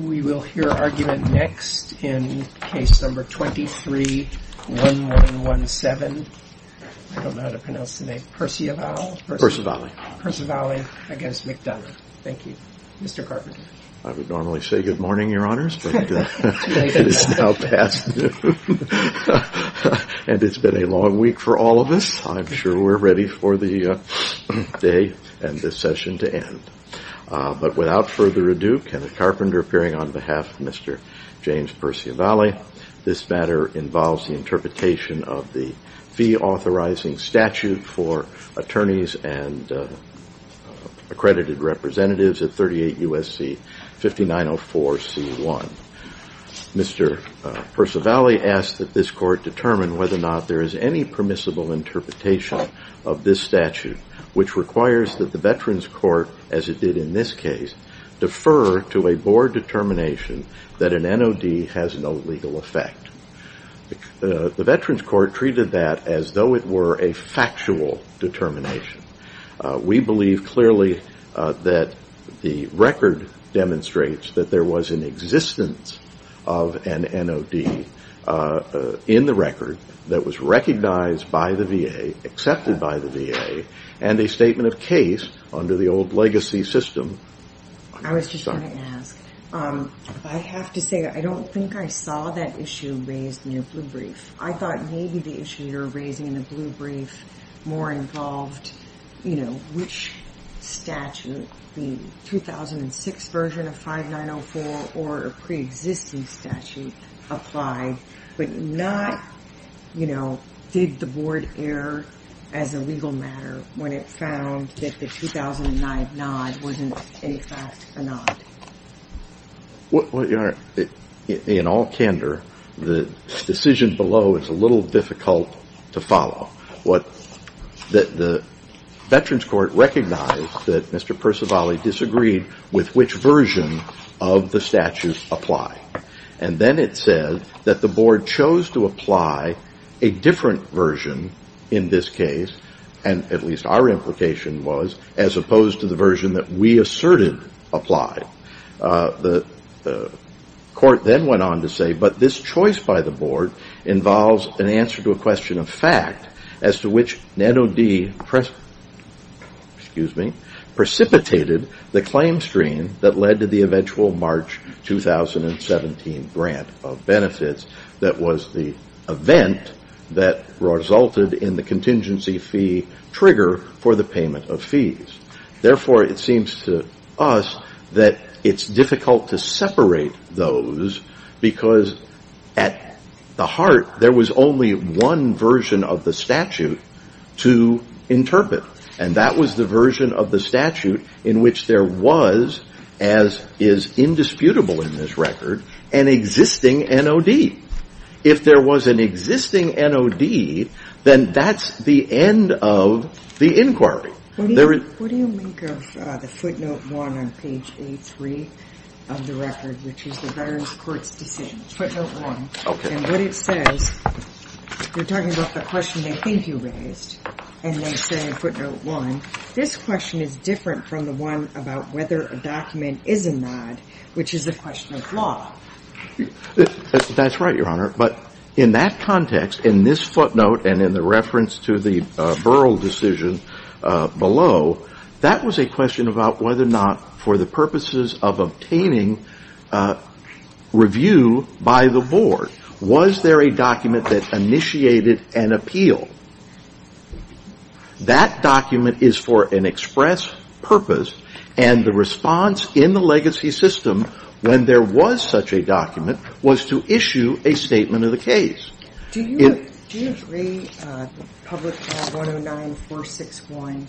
We will hear argument next in case number 23-1117, I don't know how to pronounce the name, Perciavalle v. McDonough. I would normally say good morning, your honors, but it is now past noon. And it's been a long week for all of us. I'm sure we're ready for the day and this session to end. But without further ado, Kenneth Carpenter appearing on behalf of Mr. James Perciavalle. This matter involves the interpretation of the fee authorizing statute for attorneys and accredited representatives at 38 U.S.C. 5904C1. Mr. Perciavalle asked that this court determine whether or not there is any permissible interpretation of this statute, which requires that the Veterans Court, as it did in this case, defer to a board determination that an NOD has no legal effect. The Veterans Court treated that as though it were a factual determination. We believe clearly that the record demonstrates that there was an existence of an NOD in the record that was recognized by the VA, accepted by the VA, and a statement of case under the old legacy system. I was just going to ask, I have to say I don't think I saw that issue raised in your blue brief. I thought maybe the issue you're raising in the blue brief more involved, you know, which statute, the 2006 version of 5904 or a pre-existing statute applied, but not, you know, did the board err as a legal matter when it found that the 2009 NOD wasn't in fact a NOD? Well, Your Honor, in all candor, the decision below is a little difficult to follow. The Veterans Court recognized that Mr. Perciavalle disagreed with which version of the statute applied. And then it said that the board chose to apply a different version in this case, and at least our implication was, as opposed to the version that we asserted applied. The court then went on to say, but this choice by the board involves an answer to a question of fact, as to which NOD precipitated the claim stream that led to the eventual March 2017 grant of benefits that was the event that resulted in the contingency fee trigger for the payment of fees. Therefore, it seems to us that it's difficult to separate those, because at the heart, there was only one version of the statute to interpret, and that was the version of the statute in which there was, as is indisputable in this record, an existing NOD. If there was an existing NOD, then that's the end of the inquiry. What do you make of the footnote one on page A3 of the record, which is the Veterans Court's decision? Footnote one. Okay. And what it says, you're talking about the question they think you raised, and they say footnote one. This question is different from the one about whether a document is a NOD, which is a question of law. That's right, Your Honor. But in that context, in this footnote and in the reference to the Burrell decision below, that was a question about whether or not, for the purposes of obtaining review by the board, was there a document that initiated an appeal? That document is for an express purpose, and the response in the legacy system when there was such a document was to issue a statement of the case. Do you agree that Public Law 109-461,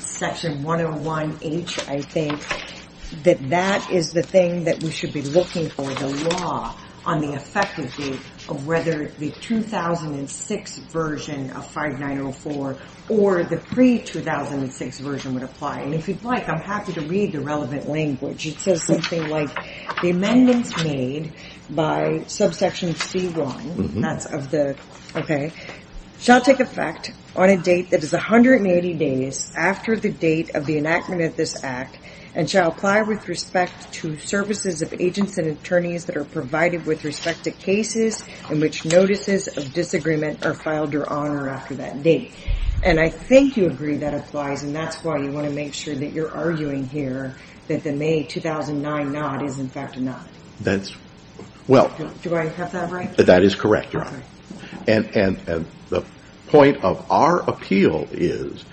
Section 101H, I think, that that is the thing that we should be looking for, the law on the effective date, of whether the 2006 version of 5904 or the pre-2006 version would apply? And if you'd like, I'm happy to read the relevant language. It says something like, the amendments made by subsection C1, that's of the, okay, shall take effect on a date that is 180 days after the date of the enactment of this act and shall apply with respect to services of agents and attorneys that are provided with respect to cases in which notices of disagreement are filed, Your Honor, after that date. And I think you agree that applies, and that's why you want to make sure that you're arguing here that the May 2009 NOD is, in fact, a NOD. That's, well. Do I have that right? That is correct, Your Honor. And the point of our appeal is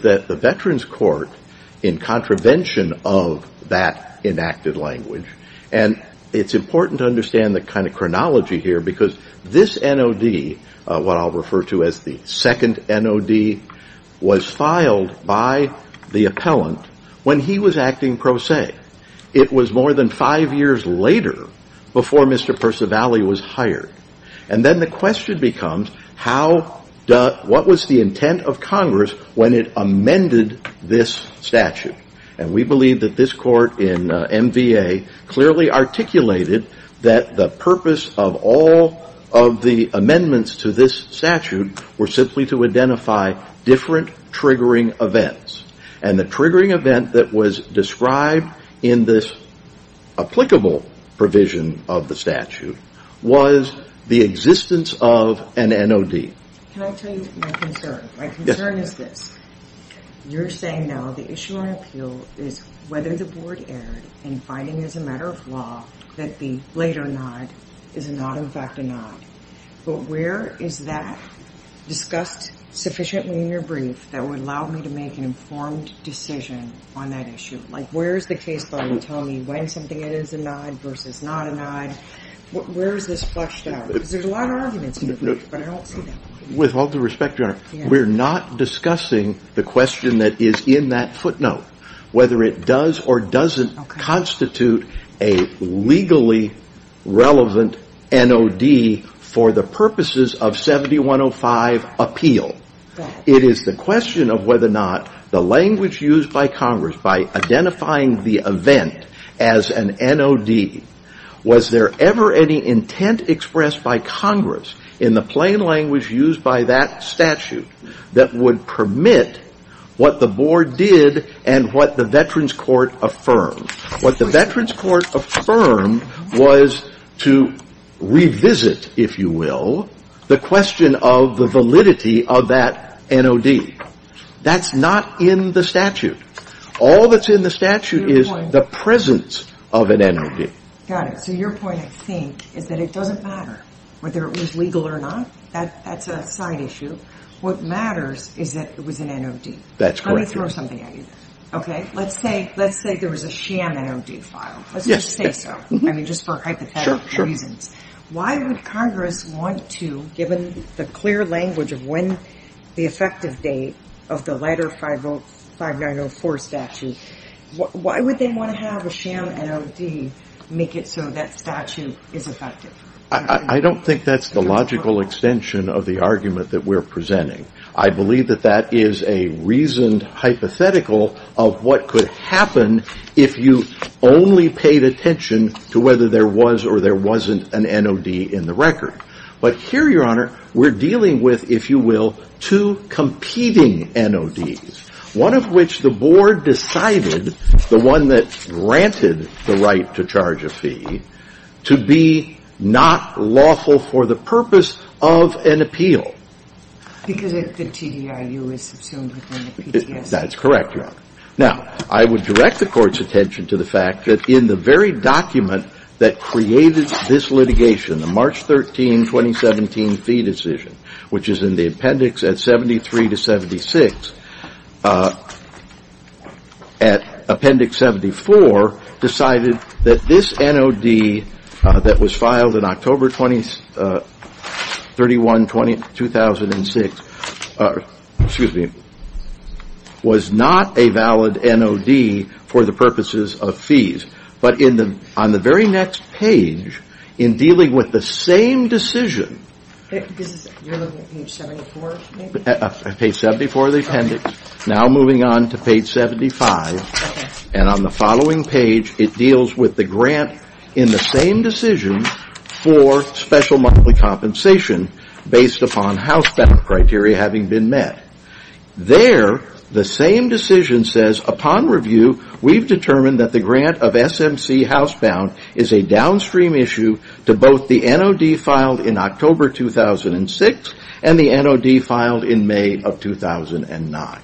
that the Veterans Court, in contravention of that enacted language, and it's important to understand the kind of chronology here because this NOD, what I'll refer to as the second NOD, was filed by the appellant when he was acting pro se. It was more than five years later before Mr. Percivali was hired. And then the question becomes, what was the intent of Congress when it amended this statute? And we believe that this court in MVA clearly articulated that the purpose of all of the amendments to this statute were simply to identify different triggering events. And the triggering event that was described in this applicable provision of the statute was the existence of an NOD. Can I tell you my concern? My concern is this. You're saying now the issue on appeal is whether the board erred in finding as a matter of law that the later NOD is not, in fact, a NOD. But where is that discussed sufficiently in your brief that would allow me to make an informed decision on that issue? Like, where is the case file telling me when something is a NOD versus not a NOD? Where is this fleshed out? Because there's a lot of arguments in the brief, but I don't see them. With all due respect, Your Honor, we're not discussing the question that is in that footnote, whether it does or doesn't constitute a legally relevant NOD for the purposes of 7105 appeal. It is the question of whether or not the language used by Congress by identifying the event as an NOD, was there ever any intent expressed by Congress in the plain language used by that statute that would permit what the board did and what the Veterans Court affirmed? What the Veterans Court affirmed was to revisit, if you will, the question of the validity of that NOD. That's not in the statute. All that's in the statute is the presence of an NOD. Got it. So your point, I think, is that it doesn't matter whether it was legal or not. That's a side issue. What matters is that it was an NOD. That's correct. Let me throw something at you. Okay? Let's say there was a sham NOD file. Let's just say so. I mean, just for hypothetical reasons. Sure, sure. Why would Congress want to, given the clear language of when the effective date of the letter 5904 statute, why would they want to have a sham NOD make it so that statute is effective? I don't think that's the logical extension of the argument that we're presenting. I believe that that is a reasoned hypothetical of what could happen if you only paid attention to whether there was or there wasn't an NOD in the record. But here, Your Honor, we're dealing with, if you will, two competing NODs, one of which the Board decided, the one that granted the right to charge a fee, to be not lawful for the purpose of an appeal. Because the TDIU is subsumed within the PTSA. That's correct, Your Honor. Now, I would direct the Court's attention to the fact that in the very document that created this litigation, the March 13, 2017 fee decision, which is in the appendix at 73 to 76, at appendix 74, decided that this NOD that was filed in October 31, 2006, excuse me, was not a valid NOD for the purposes of fees. But on the very next page, in dealing with the same decision. You're looking at page 74, maybe? Page 74 of the appendix. Now moving on to page 75. And on the following page, it deals with the grant in the same decision for special monthly compensation based upon housebound criteria having been met. There, the same decision says, upon review, we've determined that the grant of SMC housebound is a downstream issue to both the NOD filed in October 2006 and the NOD filed in May of 2009.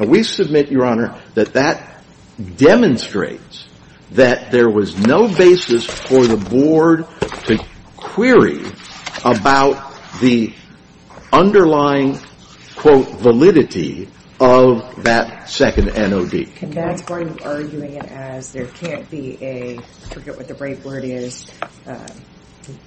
We submit, Your Honor, that that demonstrates that there was no basis for the Board to query about the underlying, quote, validity of that second NOD. That's part of arguing it as there can't be a, I forget what the right word is.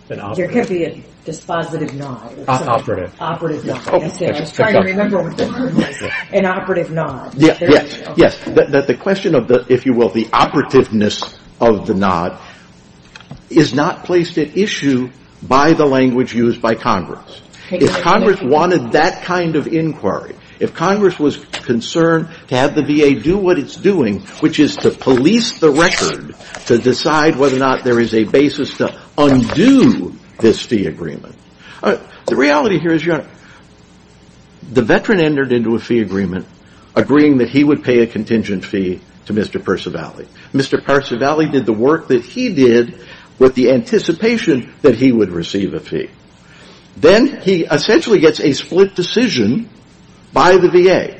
There can't be a dispositive NOD. Operative. Operative NOD. I was trying to remember what the word was. An operative NOD. Yes. Yes. The question of the, if you will, the operativeness of the NOD is not placed at issue by the language used by Congress. If Congress wanted that kind of inquiry, if Congress was concerned to have the VA do what it's doing, which is to police the record to decide whether or not there is a basis to undo this fee agreement. The reality here is, Your Honor, the veteran entered into a fee agreement agreeing that he would pay a contingent fee to Mr. Percivali. Mr. Percivali did the work that he did with the anticipation that he would receive a fee. Then he essentially gets a split decision by the VA.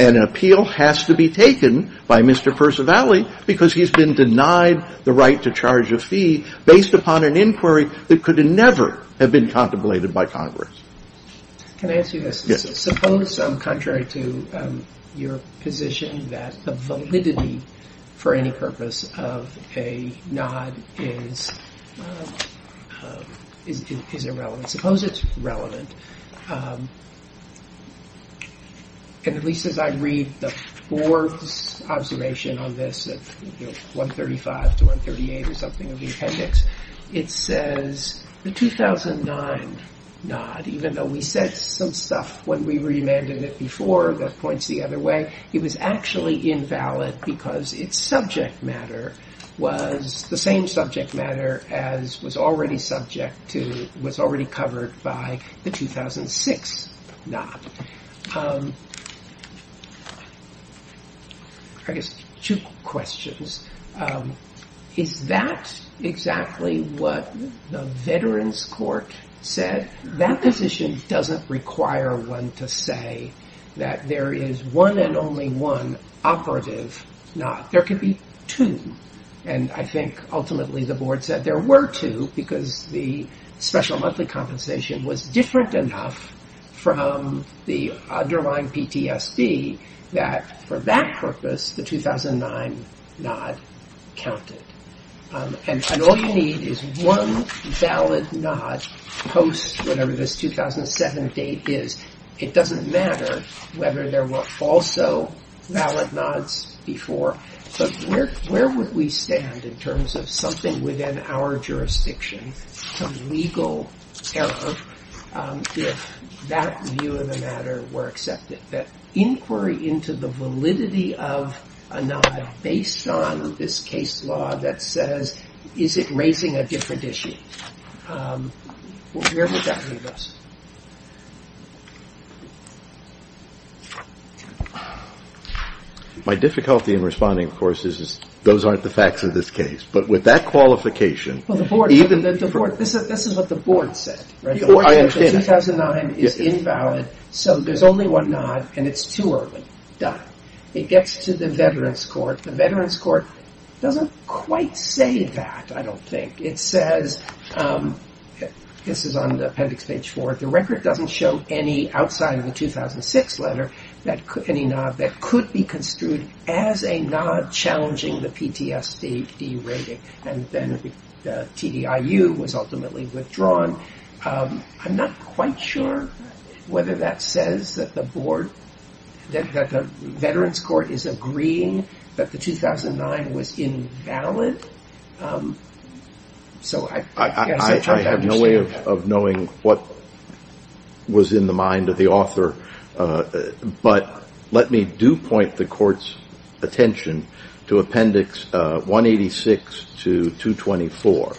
And an appeal has to be taken by Mr. Percivali because he's been denied the right to charge a fee based upon an inquiry that could never have been contemplated by Congress. Can I ask you this? Yes. Suppose, contrary to your position, that the validity for any purpose of a NOD is irrelevant. Suppose it's relevant. And at least as I read the board's observation on this, 135 to 138 or something of the appendix, it says the 2009 NOD, even though we said some stuff when we remanded it before that points the other way, it was actually invalid because its subject matter was the same subject matter as was already subject to, was already covered by the 2006 NOD. I guess two questions. Is that exactly what the Veterans Court said? That position doesn't require one to say that there is one and only one operative NOD. There could be two. And I think ultimately the board said there were two because the special monthly compensation was different enough from the underlying PTSD that for that purpose the 2009 NOD counted. And all you need is one valid NOD post whatever this 2007 date is. It doesn't matter whether there were also valid NODs before. But where would we stand in terms of something within our jurisdiction, some legal error if that view of the matter were accepted, that inquiry into the validity of a NOD based on this case law that says is it raising a different issue? Where would that leave us? My difficulty in responding, of course, is those aren't the facts of this case. But with that qualification, even the board. This is what the board said. The 2009 is invalid. So there's only one NOD and it's too early. Done. It gets to the Veterans Court. The Veterans Court doesn't quite say that, I don't think. It says, this is on the appendix page 4, the record doesn't show any outside of the 2006 letter, any NOD that could be construed as a NOD challenging the PTSD rating. And then TDIU was ultimately withdrawn. I'm not quite sure whether that says that the board, that the Veterans Court is agreeing that the 2009 was invalid. I have no way of knowing what was in the mind of the author. But let me do point the court's attention to appendix 186 to 224.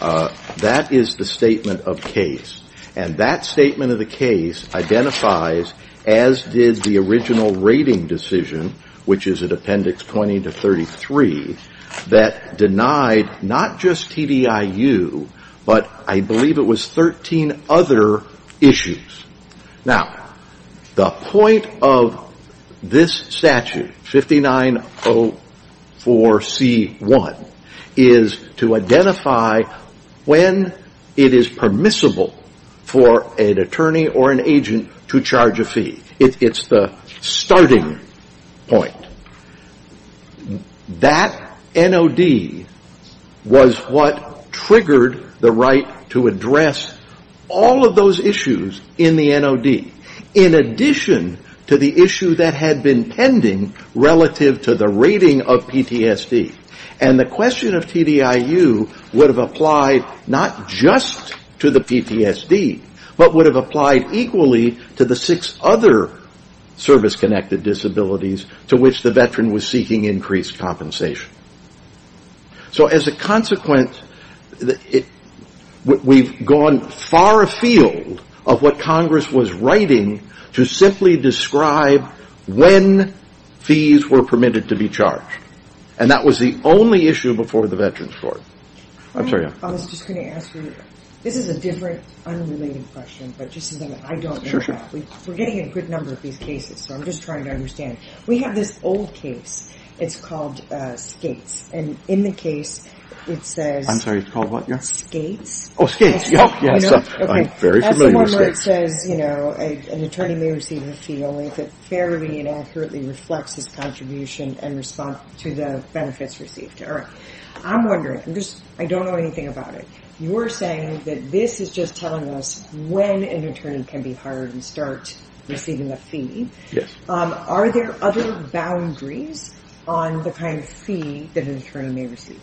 That is the statement of case. And that statement of the case identifies, as did the original rating decision, which is at appendix 20 to 33, that denied not just TDIU, but I believe it was 13 other issues. Now, the point of this statute, 5904C1, is to identify when it is permissible for an attorney or an agent to charge a fee. It's the starting point. That NOD was what triggered the right to address all of those issues in the NOD, in addition to the issue that had been pending relative to the rating of PTSD. And the question of TDIU would have applied not just to the PTSD, but would have applied equally to the six other service-connected disabilities to which the veteran was seeking increased compensation. So as a consequence, we've gone far afield of what Congress was writing to simply describe when fees were permitted to be charged. And that was the only issue before the Veterans Court. I'm sorry. I was just going to ask you, this is a different, unrelated question, but just something that I don't know about. Sure, sure. We're getting a good number of these cases, so I'm just trying to understand. We have this old case. It's called Skates. And in the case, it says- I'm sorry, it's called what again? Skates. Oh, Skates. Oh, yes. I'm very familiar with Skates. An attorney may receive a fee only if it fairly and accurately reflects his contribution in response to the benefits received. All right. I'm wondering. I don't know anything about it. You were saying that this is just telling us when an attorney can be hired and start receiving a fee. Yes. Are there other boundaries on the kind of fee that an attorney may receive?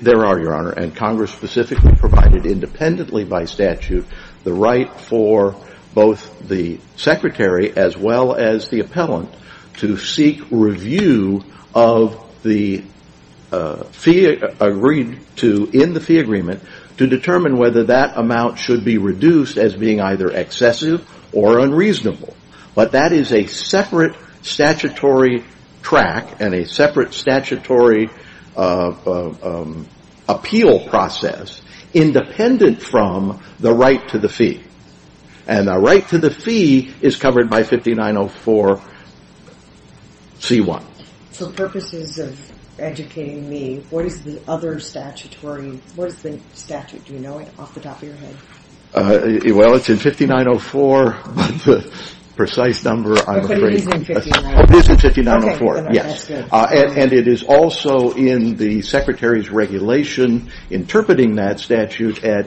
There are, Your Honor. And Congress specifically provided independently by statute the right for both the secretary as well as the appellant to seek review of the fee agreed to in the fee agreement to determine whether that amount should be reduced as being either excessive or unreasonable. But that is a separate statutory track and a separate statutory appeal process independent from the right to the fee. And the right to the fee is covered by 5904C1. For purposes of educating me, what is the other statutory-what is the statute? Do you know it off the top of your head? Well, it's in 5904, but the precise number I'm afraid- But it is in 5904. It is in 5904. Okay. Yes. And it is also in the secretary's regulation interpreting that statute at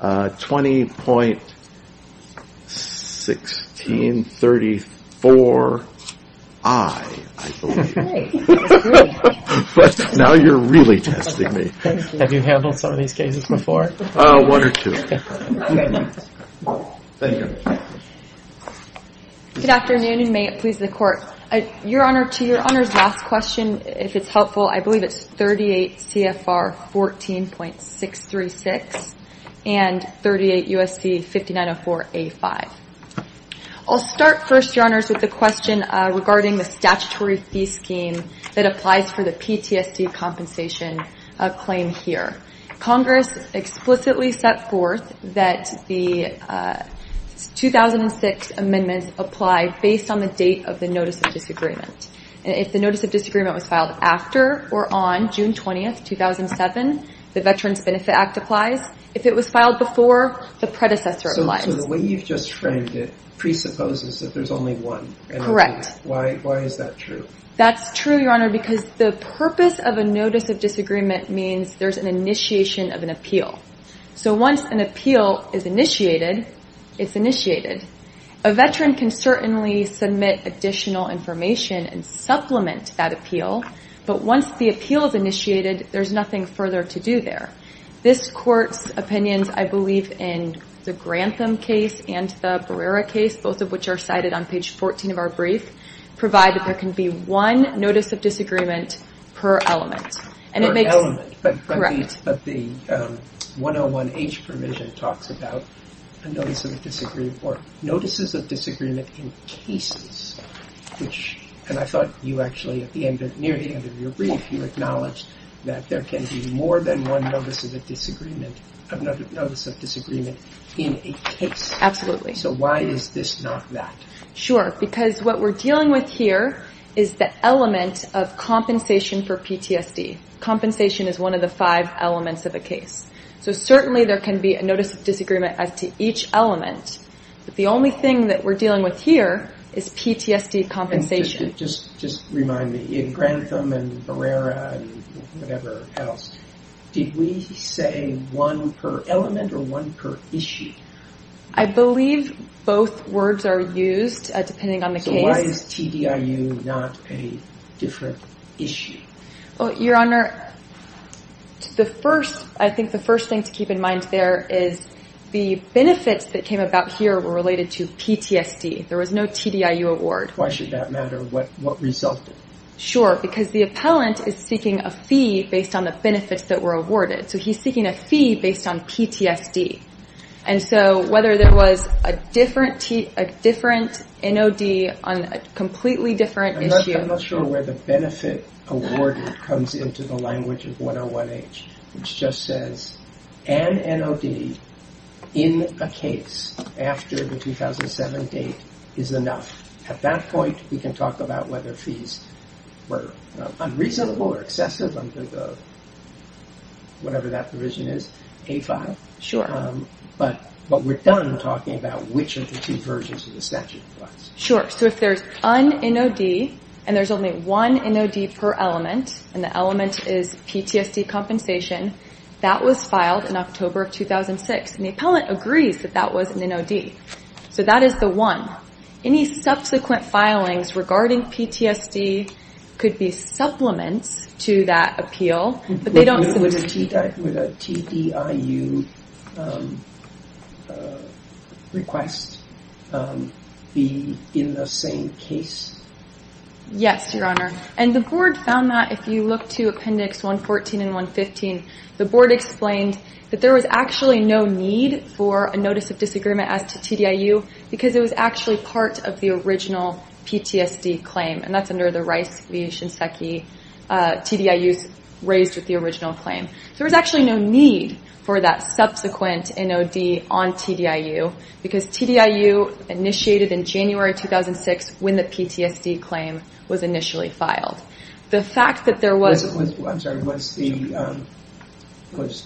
20.1634I, I believe. Great. That's great. But now you're really testing me. Thank you. Have you handled some of these cases before? One or two. Thank you. Good afternoon, and may it please the Court. Your Honor, to Your Honor's last question, if it's helpful, I believe it's 38CFR14.636 and 38USC5904A5. I'll start first, Your Honors, with the question regarding the statutory fee scheme that applies for the PTSD compensation claim here. Congress explicitly set forth that the 2006 amendments apply based on the date of the notice of disagreement. And if the notice of disagreement was filed after or on June 20, 2007, the Veterans Benefit Act applies. If it was filed before, the predecessor applies. So the way you've just framed it presupposes that there's only one. Correct. Why is that true? That's true, Your Honor, because the purpose of a notice of disagreement means there's an initiation of an appeal. So once an appeal is initiated, it's initiated. A Veteran can certainly submit additional information and supplement that appeal. But once the appeal is initiated, there's nothing further to do there. This Court's opinions, I believe, in the Grantham case and the Barrera case, both of which are cited on page 14 of our brief, provide that there can be one notice of disagreement per element. Per element? Correct. But the 101H provision talks about notices of disagreement in cases, and I thought you actually, at the end, near the end of your brief, you acknowledged that there can be more than one notice of disagreement in a case. Absolutely. So why is this not that? Sure, because what we're dealing with here is the element of compensation for PTSD. Compensation is one of the five elements of a case. So certainly there can be a notice of disagreement as to each element, but the only thing that we're dealing with here is PTSD compensation. Just remind me, in Grantham and Barrera and whatever else, did we say one per element or one per issue? I believe both words are used depending on the case. So why is TDIU not a different issue? Well, Your Honor, I think the first thing to keep in mind there is the benefits that came about here were related to PTSD. There was no TDIU award. Why should that matter? What resulted? Sure, because the appellant is seeking a fee based on the benefits that were awarded. So he's seeking a fee based on PTSD. And so whether there was a different NOD on a completely different issue— I'm not sure where the benefit awarded comes into the language of 101H, which just says an NOD in a case after the 2007 date is enough. At that point, we can talk about whether fees were unreasonable or excessive under whatever that provision is, A5. Sure. But we're done talking about which of the two versions of the statute applies. Sure. So if there's an NOD and there's only one NOD per element, and the element is PTSD compensation, that was filed in October of 2006, and the appellant agrees that that was an NOD. So that is the one. Any subsequent filings regarding PTSD could be supplements to that appeal. Would a TDIU request be in the same case? Yes, Your Honor. And the Board found that if you look to Appendix 114 and 115, the Board explained that there was actually no need for a Notice of Disagreement as to TDIU because it was actually part of the original PTSD claim, and that's under the Rice v. Shinseki TDIUs raised with the original claim. There was actually no need for that subsequent NOD on TDIU because TDIU initiated in January 2006 when the PTSD claim was initially filed. Was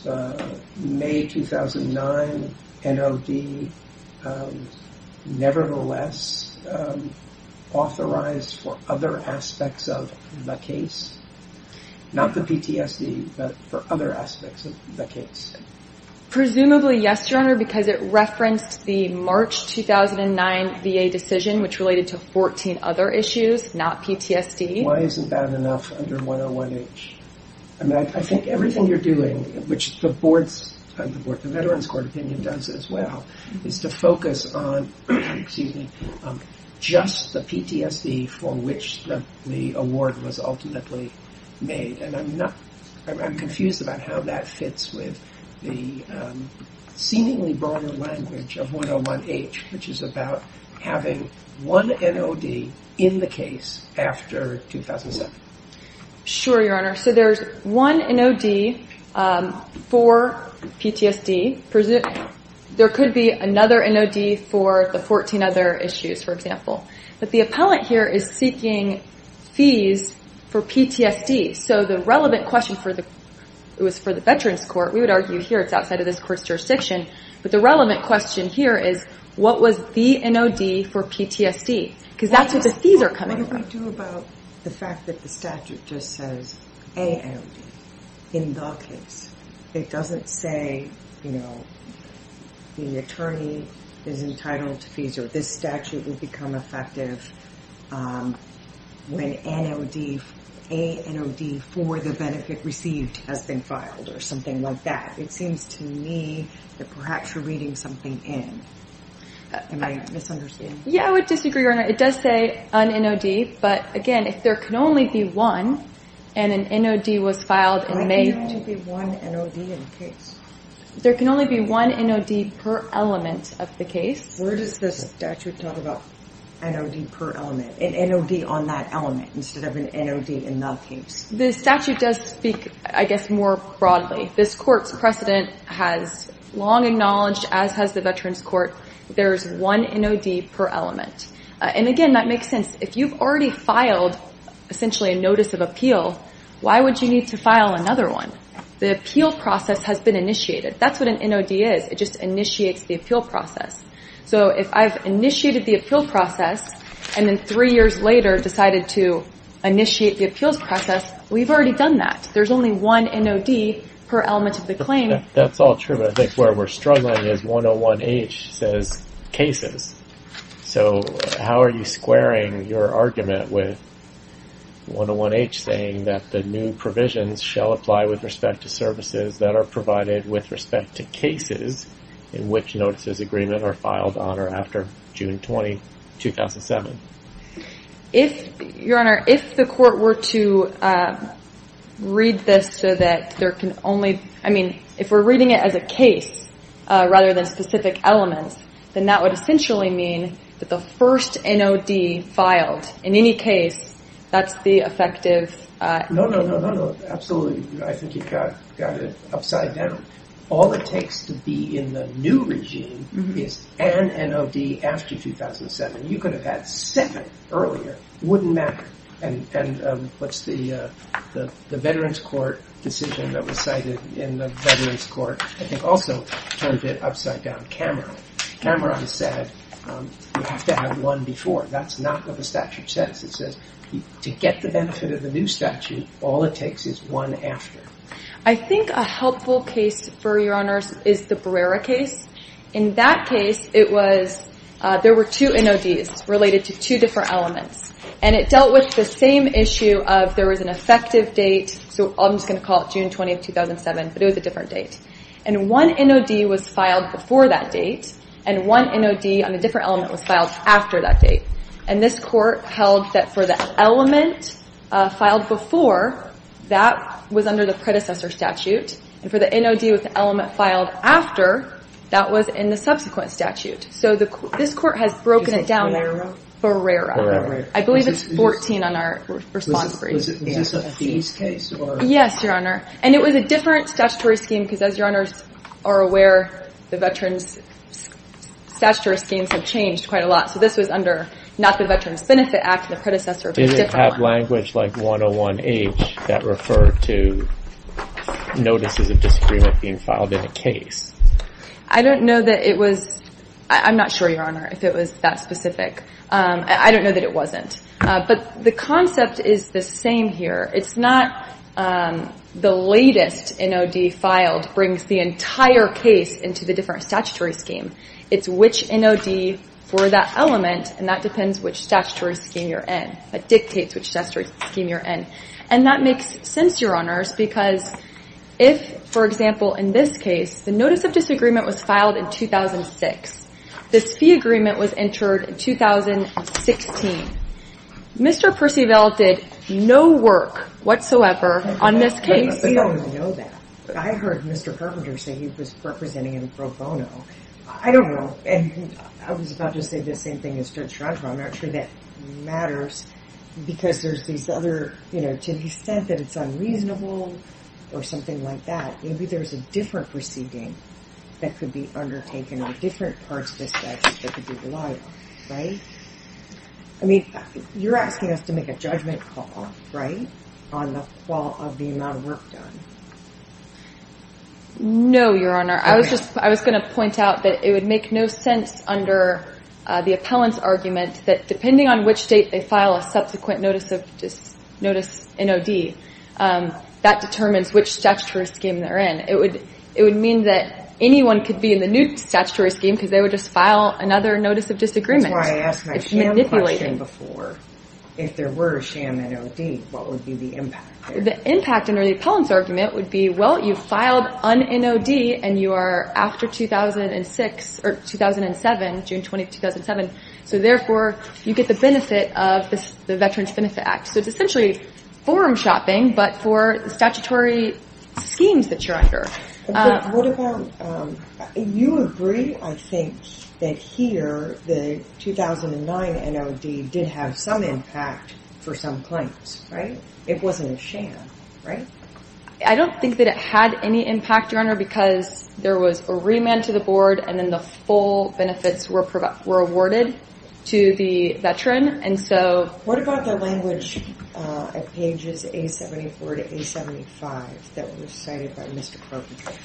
the May 2009 NOD nevertheless authorized for other aspects of the case? Not the PTSD, but for other aspects of the case. Presumably, yes, Your Honor, because it referenced the March 2009 VA decision, which related to 14 other issues, not PTSD. Why isn't that enough under 101H? I think everything you're doing, which the Veterans Court opinion does as well, is to focus on just the PTSD for which the award was ultimately made, and I'm confused about how that fits with the seemingly broader language of 101H, which is about having one NOD in the case after 2007. Sure, Your Honor. So there's one NOD for PTSD. There could be another NOD for the 14 other issues, for example. But the appellant here is seeking fees for PTSD, so the relevant question for the Veterans Court, we would argue here it's outside of this court's jurisdiction, but the relevant question here is what was the NOD for PTSD? Because that's where the fees are coming from. What do we do about the fact that the statute just says a NOD in the case? It doesn't say, you know, the attorney is entitled to fees or this statute will become effective when a NOD for the benefit received has been filed or something like that. It seems to me that perhaps you're reading something in. Am I misunderstanding? Yeah, I would disagree, Your Honor. It does say an NOD, but, again, if there can only be one and an NOD was filed and made. Why can there only be one NOD in the case? There can only be one NOD per element of the case. Where does the statute talk about an NOD per element, an NOD on that element instead of an NOD in the case? The statute does speak, I guess, more broadly. This Court's precedent has long acknowledged, as has the Veterans Court, there's one NOD per element. And, again, that makes sense. If you've already filed essentially a notice of appeal, why would you need to file another one? The appeal process has been initiated. That's what an NOD is. It just initiates the appeal process. So if I've initiated the appeal process and then three years later decided to initiate the appeals process, we've already done that. There's only one NOD per element of the claim. That's all true. I think where we're struggling is 101H says cases. So how are you squaring your argument with 101H saying that the new provisions shall apply with respect to services that are provided with respect to cases in which notices of agreement are filed on or after June 20, 2007? Your Honor, if the Court were to read this so that there can only I mean, if we're reading it as a case rather than specific elements, then that would essentially mean that the first NOD filed in any case, that's the effective... No, no, no, no, no. Absolutely. I think you've got it upside down. All it takes to be in the new regime is an NOD after 2007. You could have had seven earlier. It wouldn't matter. And what's the Veterans Court decision that was cited in the Veterans Court? I think also turned it upside down. Cameron. Cameron said you have to have one before. That's not what the statute says. It says to get the benefit of the new statute, all it takes is one after. I think a helpful case for Your Honors is the Brera case. In that case, there were two NODs related to two different elements, and it dealt with the same issue of there was an effective date, so I'm just going to call it June 20, 2007, but it was a different date. And one NOD was filed before that date, and one NOD on a different element was filed after that date. And this Court held that for the element filed before, that was under the predecessor statute, and for the NOD with the element filed after, that was in the subsequent statute. So this Court has broken it down. Is it Brera? Brera. I believe it's 14 on our response brief. Was this a fees case? Yes, Your Honor. And it was a different statutory scheme because, as Your Honors are aware, the Veterans statutory schemes have changed quite a lot. So this was under not the Veterans Benefit Act, the predecessor, but a different one. Is there a language like 101H that referred to notices of disagreement being filed in a case? I don't know that it was. I'm not sure, Your Honor, if it was that specific. I don't know that it wasn't. But the concept is the same here. It's not the latest NOD filed brings the entire case into the different statutory scheme. It's which NOD for that element, and that depends which statutory scheme you're in. It dictates which statutory scheme you're in. And that makes sense, Your Honors, because if, for example, in this case, the notice of disagreement was filed in 2006. This fee agreement was entered in 2016. Mr. Percival did no work whatsoever on this case. I don't know that. But I heard Mr. Perpenter say he was representing him pro bono. I don't know. And I was about to say the same thing as Judge Schrenfer. I'm not sure that matters because there's these other, you know, to the extent that it's unreasonable or something like that, maybe there's a different proceeding that could be undertaken on different parts of this case that could be relied on, right? I mean, you're asking us to make a judgment call, right, on the amount of work done. No, Your Honor. I was just going to point out that it would make no sense under the appellant's argument that depending on which state they file a subsequent notice of NOD, that determines which statutory scheme they're in. It would mean that anyone could be in the new statutory scheme because they would just file another notice of disagreement. That's why I asked my sham question before. If there were a sham NOD, what would be the impact there? The impact under the appellant's argument would be, well, you filed an NOD and you are after 2006 or 2007, June 20, 2007, so therefore you get the benefit of the Veterans Benefit Act. So it's essentially forum shopping but for the statutory schemes that you're under. What about you agree, I think, that here the 2009 NOD did have some impact for some claims, right? It wasn't a sham, right? I don't think that it had any impact, Your Honor, because there was a remand to the board and then the full benefits were awarded to the veteran. What about the language at pages A74 to A75 that was cited by Mr. Kroger?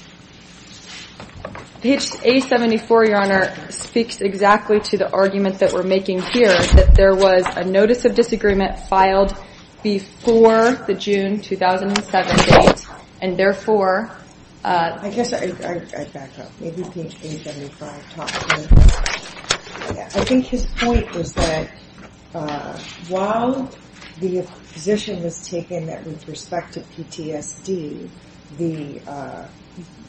Page A74, Your Honor, speaks exactly to the argument that we're making here, that there was a notice of disagreement filed before the June 2007 date and therefore- I guess I'd back up. Maybe page A75 talks to it. I think his point was that while the position was taken that with respect to PTSD, the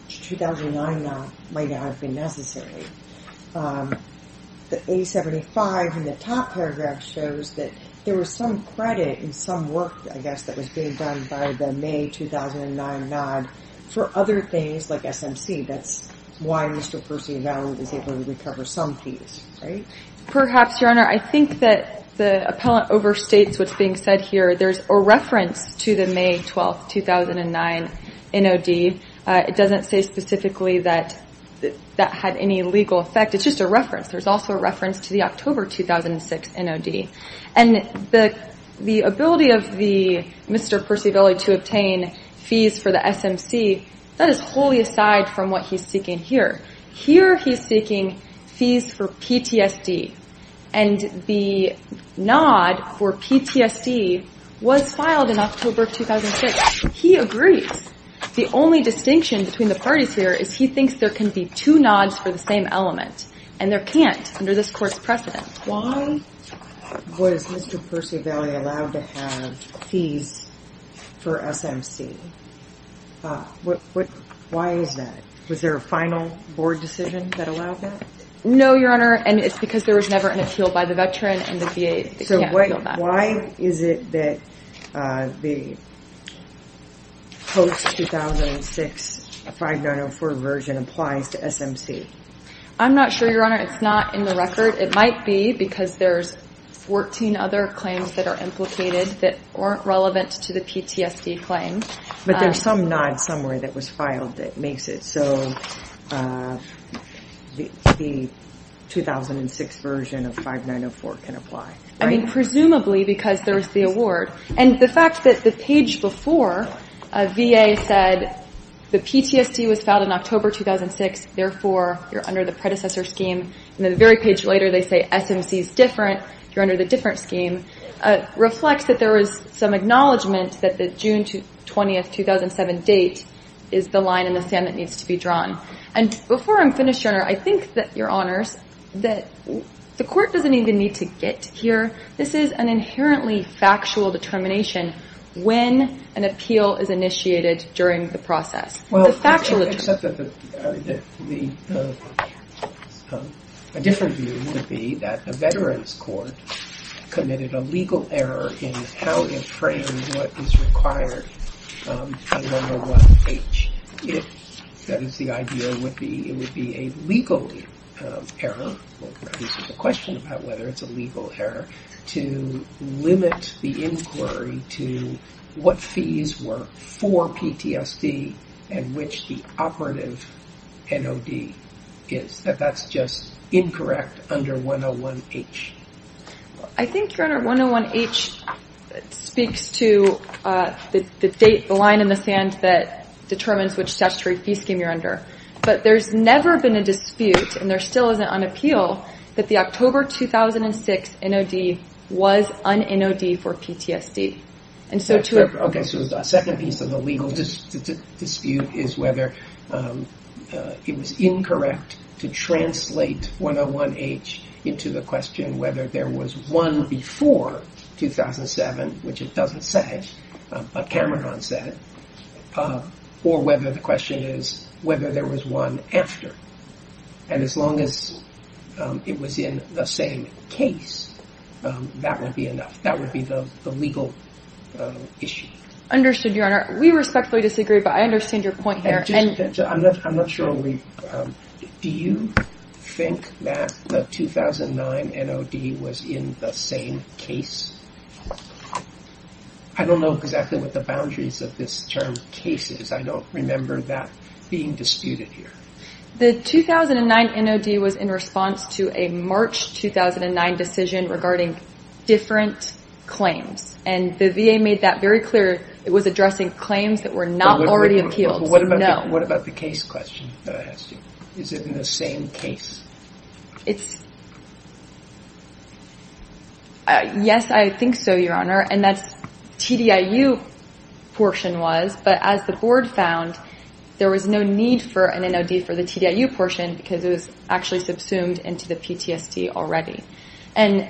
2009 NOD might not have been necessary. The A75 in the top paragraph shows that there was some credit in some work, I guess, that was being done by the May 2009 NOD for other things like SMC. That's why Mr. Percy and Valerie was able to recover some fees, right? Perhaps, Your Honor. I think that the appellant overstates what's being said here. There's a reference to the May 12, 2009 NOD. It doesn't say specifically that that had any legal effect. It's just a reference. There's also a reference to the October 2006 NOD. The ability of Mr. Percy and Valerie to obtain fees for the SMC, that is wholly aside from what he's seeking here. Here he's seeking fees for PTSD, and the nod for PTSD was filed in October 2006. He agrees. The only distinction between the parties here is he thinks there can be two nods for the same element, and there can't under this Court's precedent. Why was Mr. Percy and Valerie allowed to have fees for SMC? Why is that? Was there a final board decision that allowed that? No, Your Honor, and it's because there was never an appeal by the veteran, and the VA can't appeal that. Why is it that the post-2006 5904 version applies to SMC? I'm not sure, Your Honor. It's not in the record. It might be because there's 14 other claims that are implicated that aren't relevant to the PTSD claim. But there's some NOD somewhere that was filed that makes it so the 2006 version of 5904 can apply. I mean, presumably because there was the award. And the fact that the page before VA said the PTSD was filed in October 2006, therefore you're under the predecessor scheme, and the very page later they say SMC is different, you're under the different scheme, reflects that there was some acknowledgment that the June 20, 2007 date is the line in the sand that needs to be drawn. And before I'm finished, Your Honor, I think that, Your Honors, that the court doesn't even need to get here. This is an inherently factual determination when an appeal is initiated during the process. Well, except that a different view would be that a veterans court committed a legal error in how it framed what is required in 101H. That is, the idea would be it would be a legal error, the question about whether it's a legal error, to limit the inquiry to what fees were for PTSD and which the operative NOD is. That that's just incorrect under 101H. I think, Your Honor, 101H speaks to the line in the sand that determines which statutory fee scheme you're under. But there's never been a dispute, and there still isn't on appeal, that the October 2006 NOD was an NOD for PTSD. Okay, so the second piece of the legal dispute is whether it was incorrect to translate 101H into the question whether there was one before 2007, which it doesn't say, but Cameron said, or whether the question is whether there was one after. And as long as it was in the same case, that would be enough. That would be the legal issue. Understood, Your Honor. We respectfully disagree, but I understand your point here. I'm not sure. Do you think that the 2009 NOD was in the same case? I don't know exactly what the boundaries of this term, case, is. I don't remember that being disputed here. The 2009 NOD was in response to a March 2009 decision regarding different claims. And the VA made that very clear. It was addressing claims that were not already appealed. But what about the case question that I asked you? Is it in the same case? Yes, I think so, Your Honor, and that's TDIU portion was. But as the board found, there was no need for an NOD for the TDIU portion because it was actually subsumed into the PTSD already. And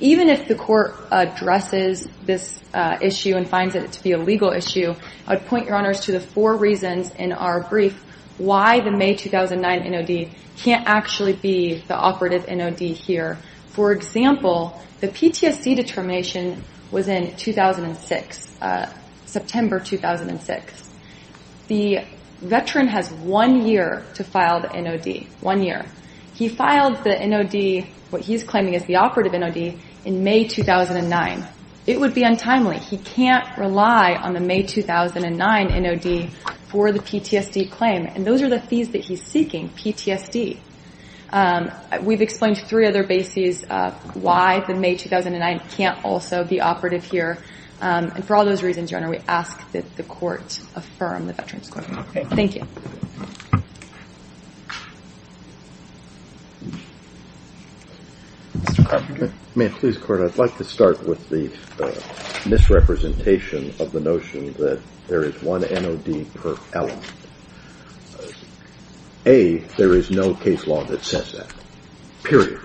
even if the court addresses this issue and finds it to be a legal issue, I would point, Your Honor, to the four reasons in our brief why the May 2009 NOD can't actually be the operative NOD here. For example, the PTSD determination was in 2006, September 2006. The veteran has one year to file the NOD, one year. He filed the NOD, what he's claiming is the operative NOD, in May 2009. It would be untimely. He can't rely on the May 2009 NOD for the PTSD claim. And those are the fees that he's seeking, PTSD. We've explained three other bases why the May 2009 can't also be operative here. And for all those reasons, Your Honor, we ask that the court affirm the veteran's claim. Thank you. Mr. Carpenter. May it please the Court, I'd like to start with the misrepresentation of the notion that there is one NOD per element. A, there is no case law that says that, period.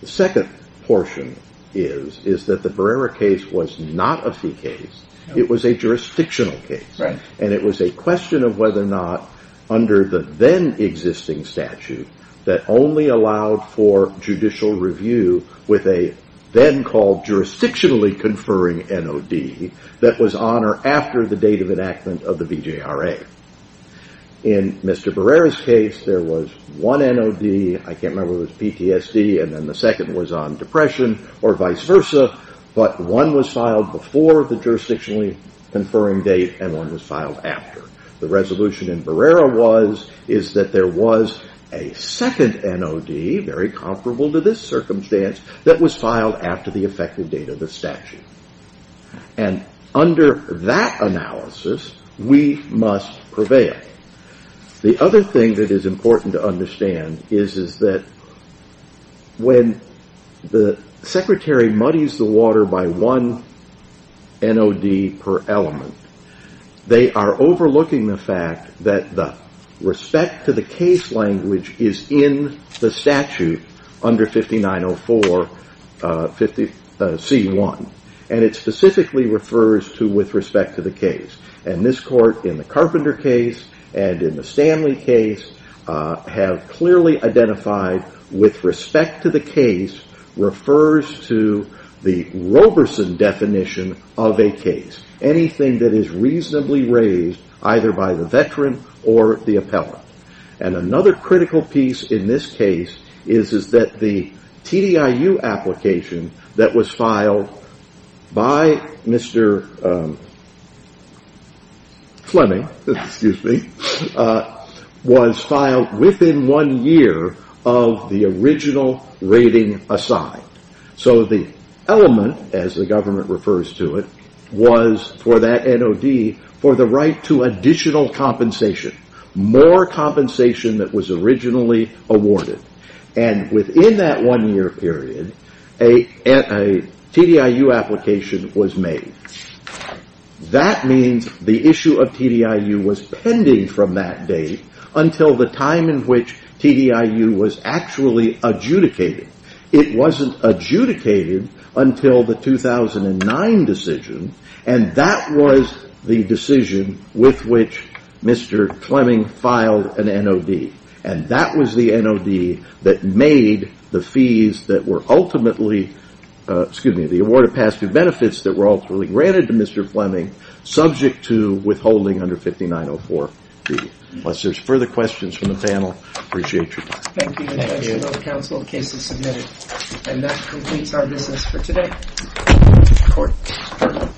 The second portion is that the Barrera case was not a fee case. It was a jurisdictional case. And it was a question of whether or not, under the then existing statute, that only allowed for judicial review with a then called jurisdictionally conferring NOD that was on or after the date of enactment of the BJRA. In Mr. Barrera's case, there was one NOD, I can't remember if it was PTSD, and then the second was on depression, or vice versa, but one was filed before the jurisdictionally conferring date and one was filed after. The resolution in Barrera is that there was a second NOD, very comparable to this circumstance, that was filed after the effective date of the statute. And under that analysis, we must prevail. The other thing that is important to understand is that when the secretary muddies the water by one NOD per element, they are overlooking the fact that the respect to the case language is in the statute under 5904 C1. And it specifically refers to with respect to the case. And this court, in the Carpenter case and in the Stanley case, have clearly identified with respect to the case refers to the Roberson definition of a case. Anything that is reasonably raised, either by the veteran or the appellant. And another critical piece in this case is that the TDIU application that was filed by Mr. Fleming was filed within one year of the original rating assigned. So the element, as the government refers to it, was for that NOD for the right to additional compensation. More compensation that was originally awarded. And within that one year period, a TDIU application was made. That means the issue of TDIU was pending from that date until the time in which TDIU was actually adjudicated. It wasn't adjudicated until the 2009 decision. And that was the decision with which Mr. Fleming filed an NOD. And that was the NOD that made the fees that were ultimately, excuse me, the award of past due benefits that were ultimately granted to Mr. Fleming, subject to withholding under 5904. Unless there's further questions from the panel, I appreciate your time. Thank you. Thank you. The case is submitted. And that completes our business for today. Court.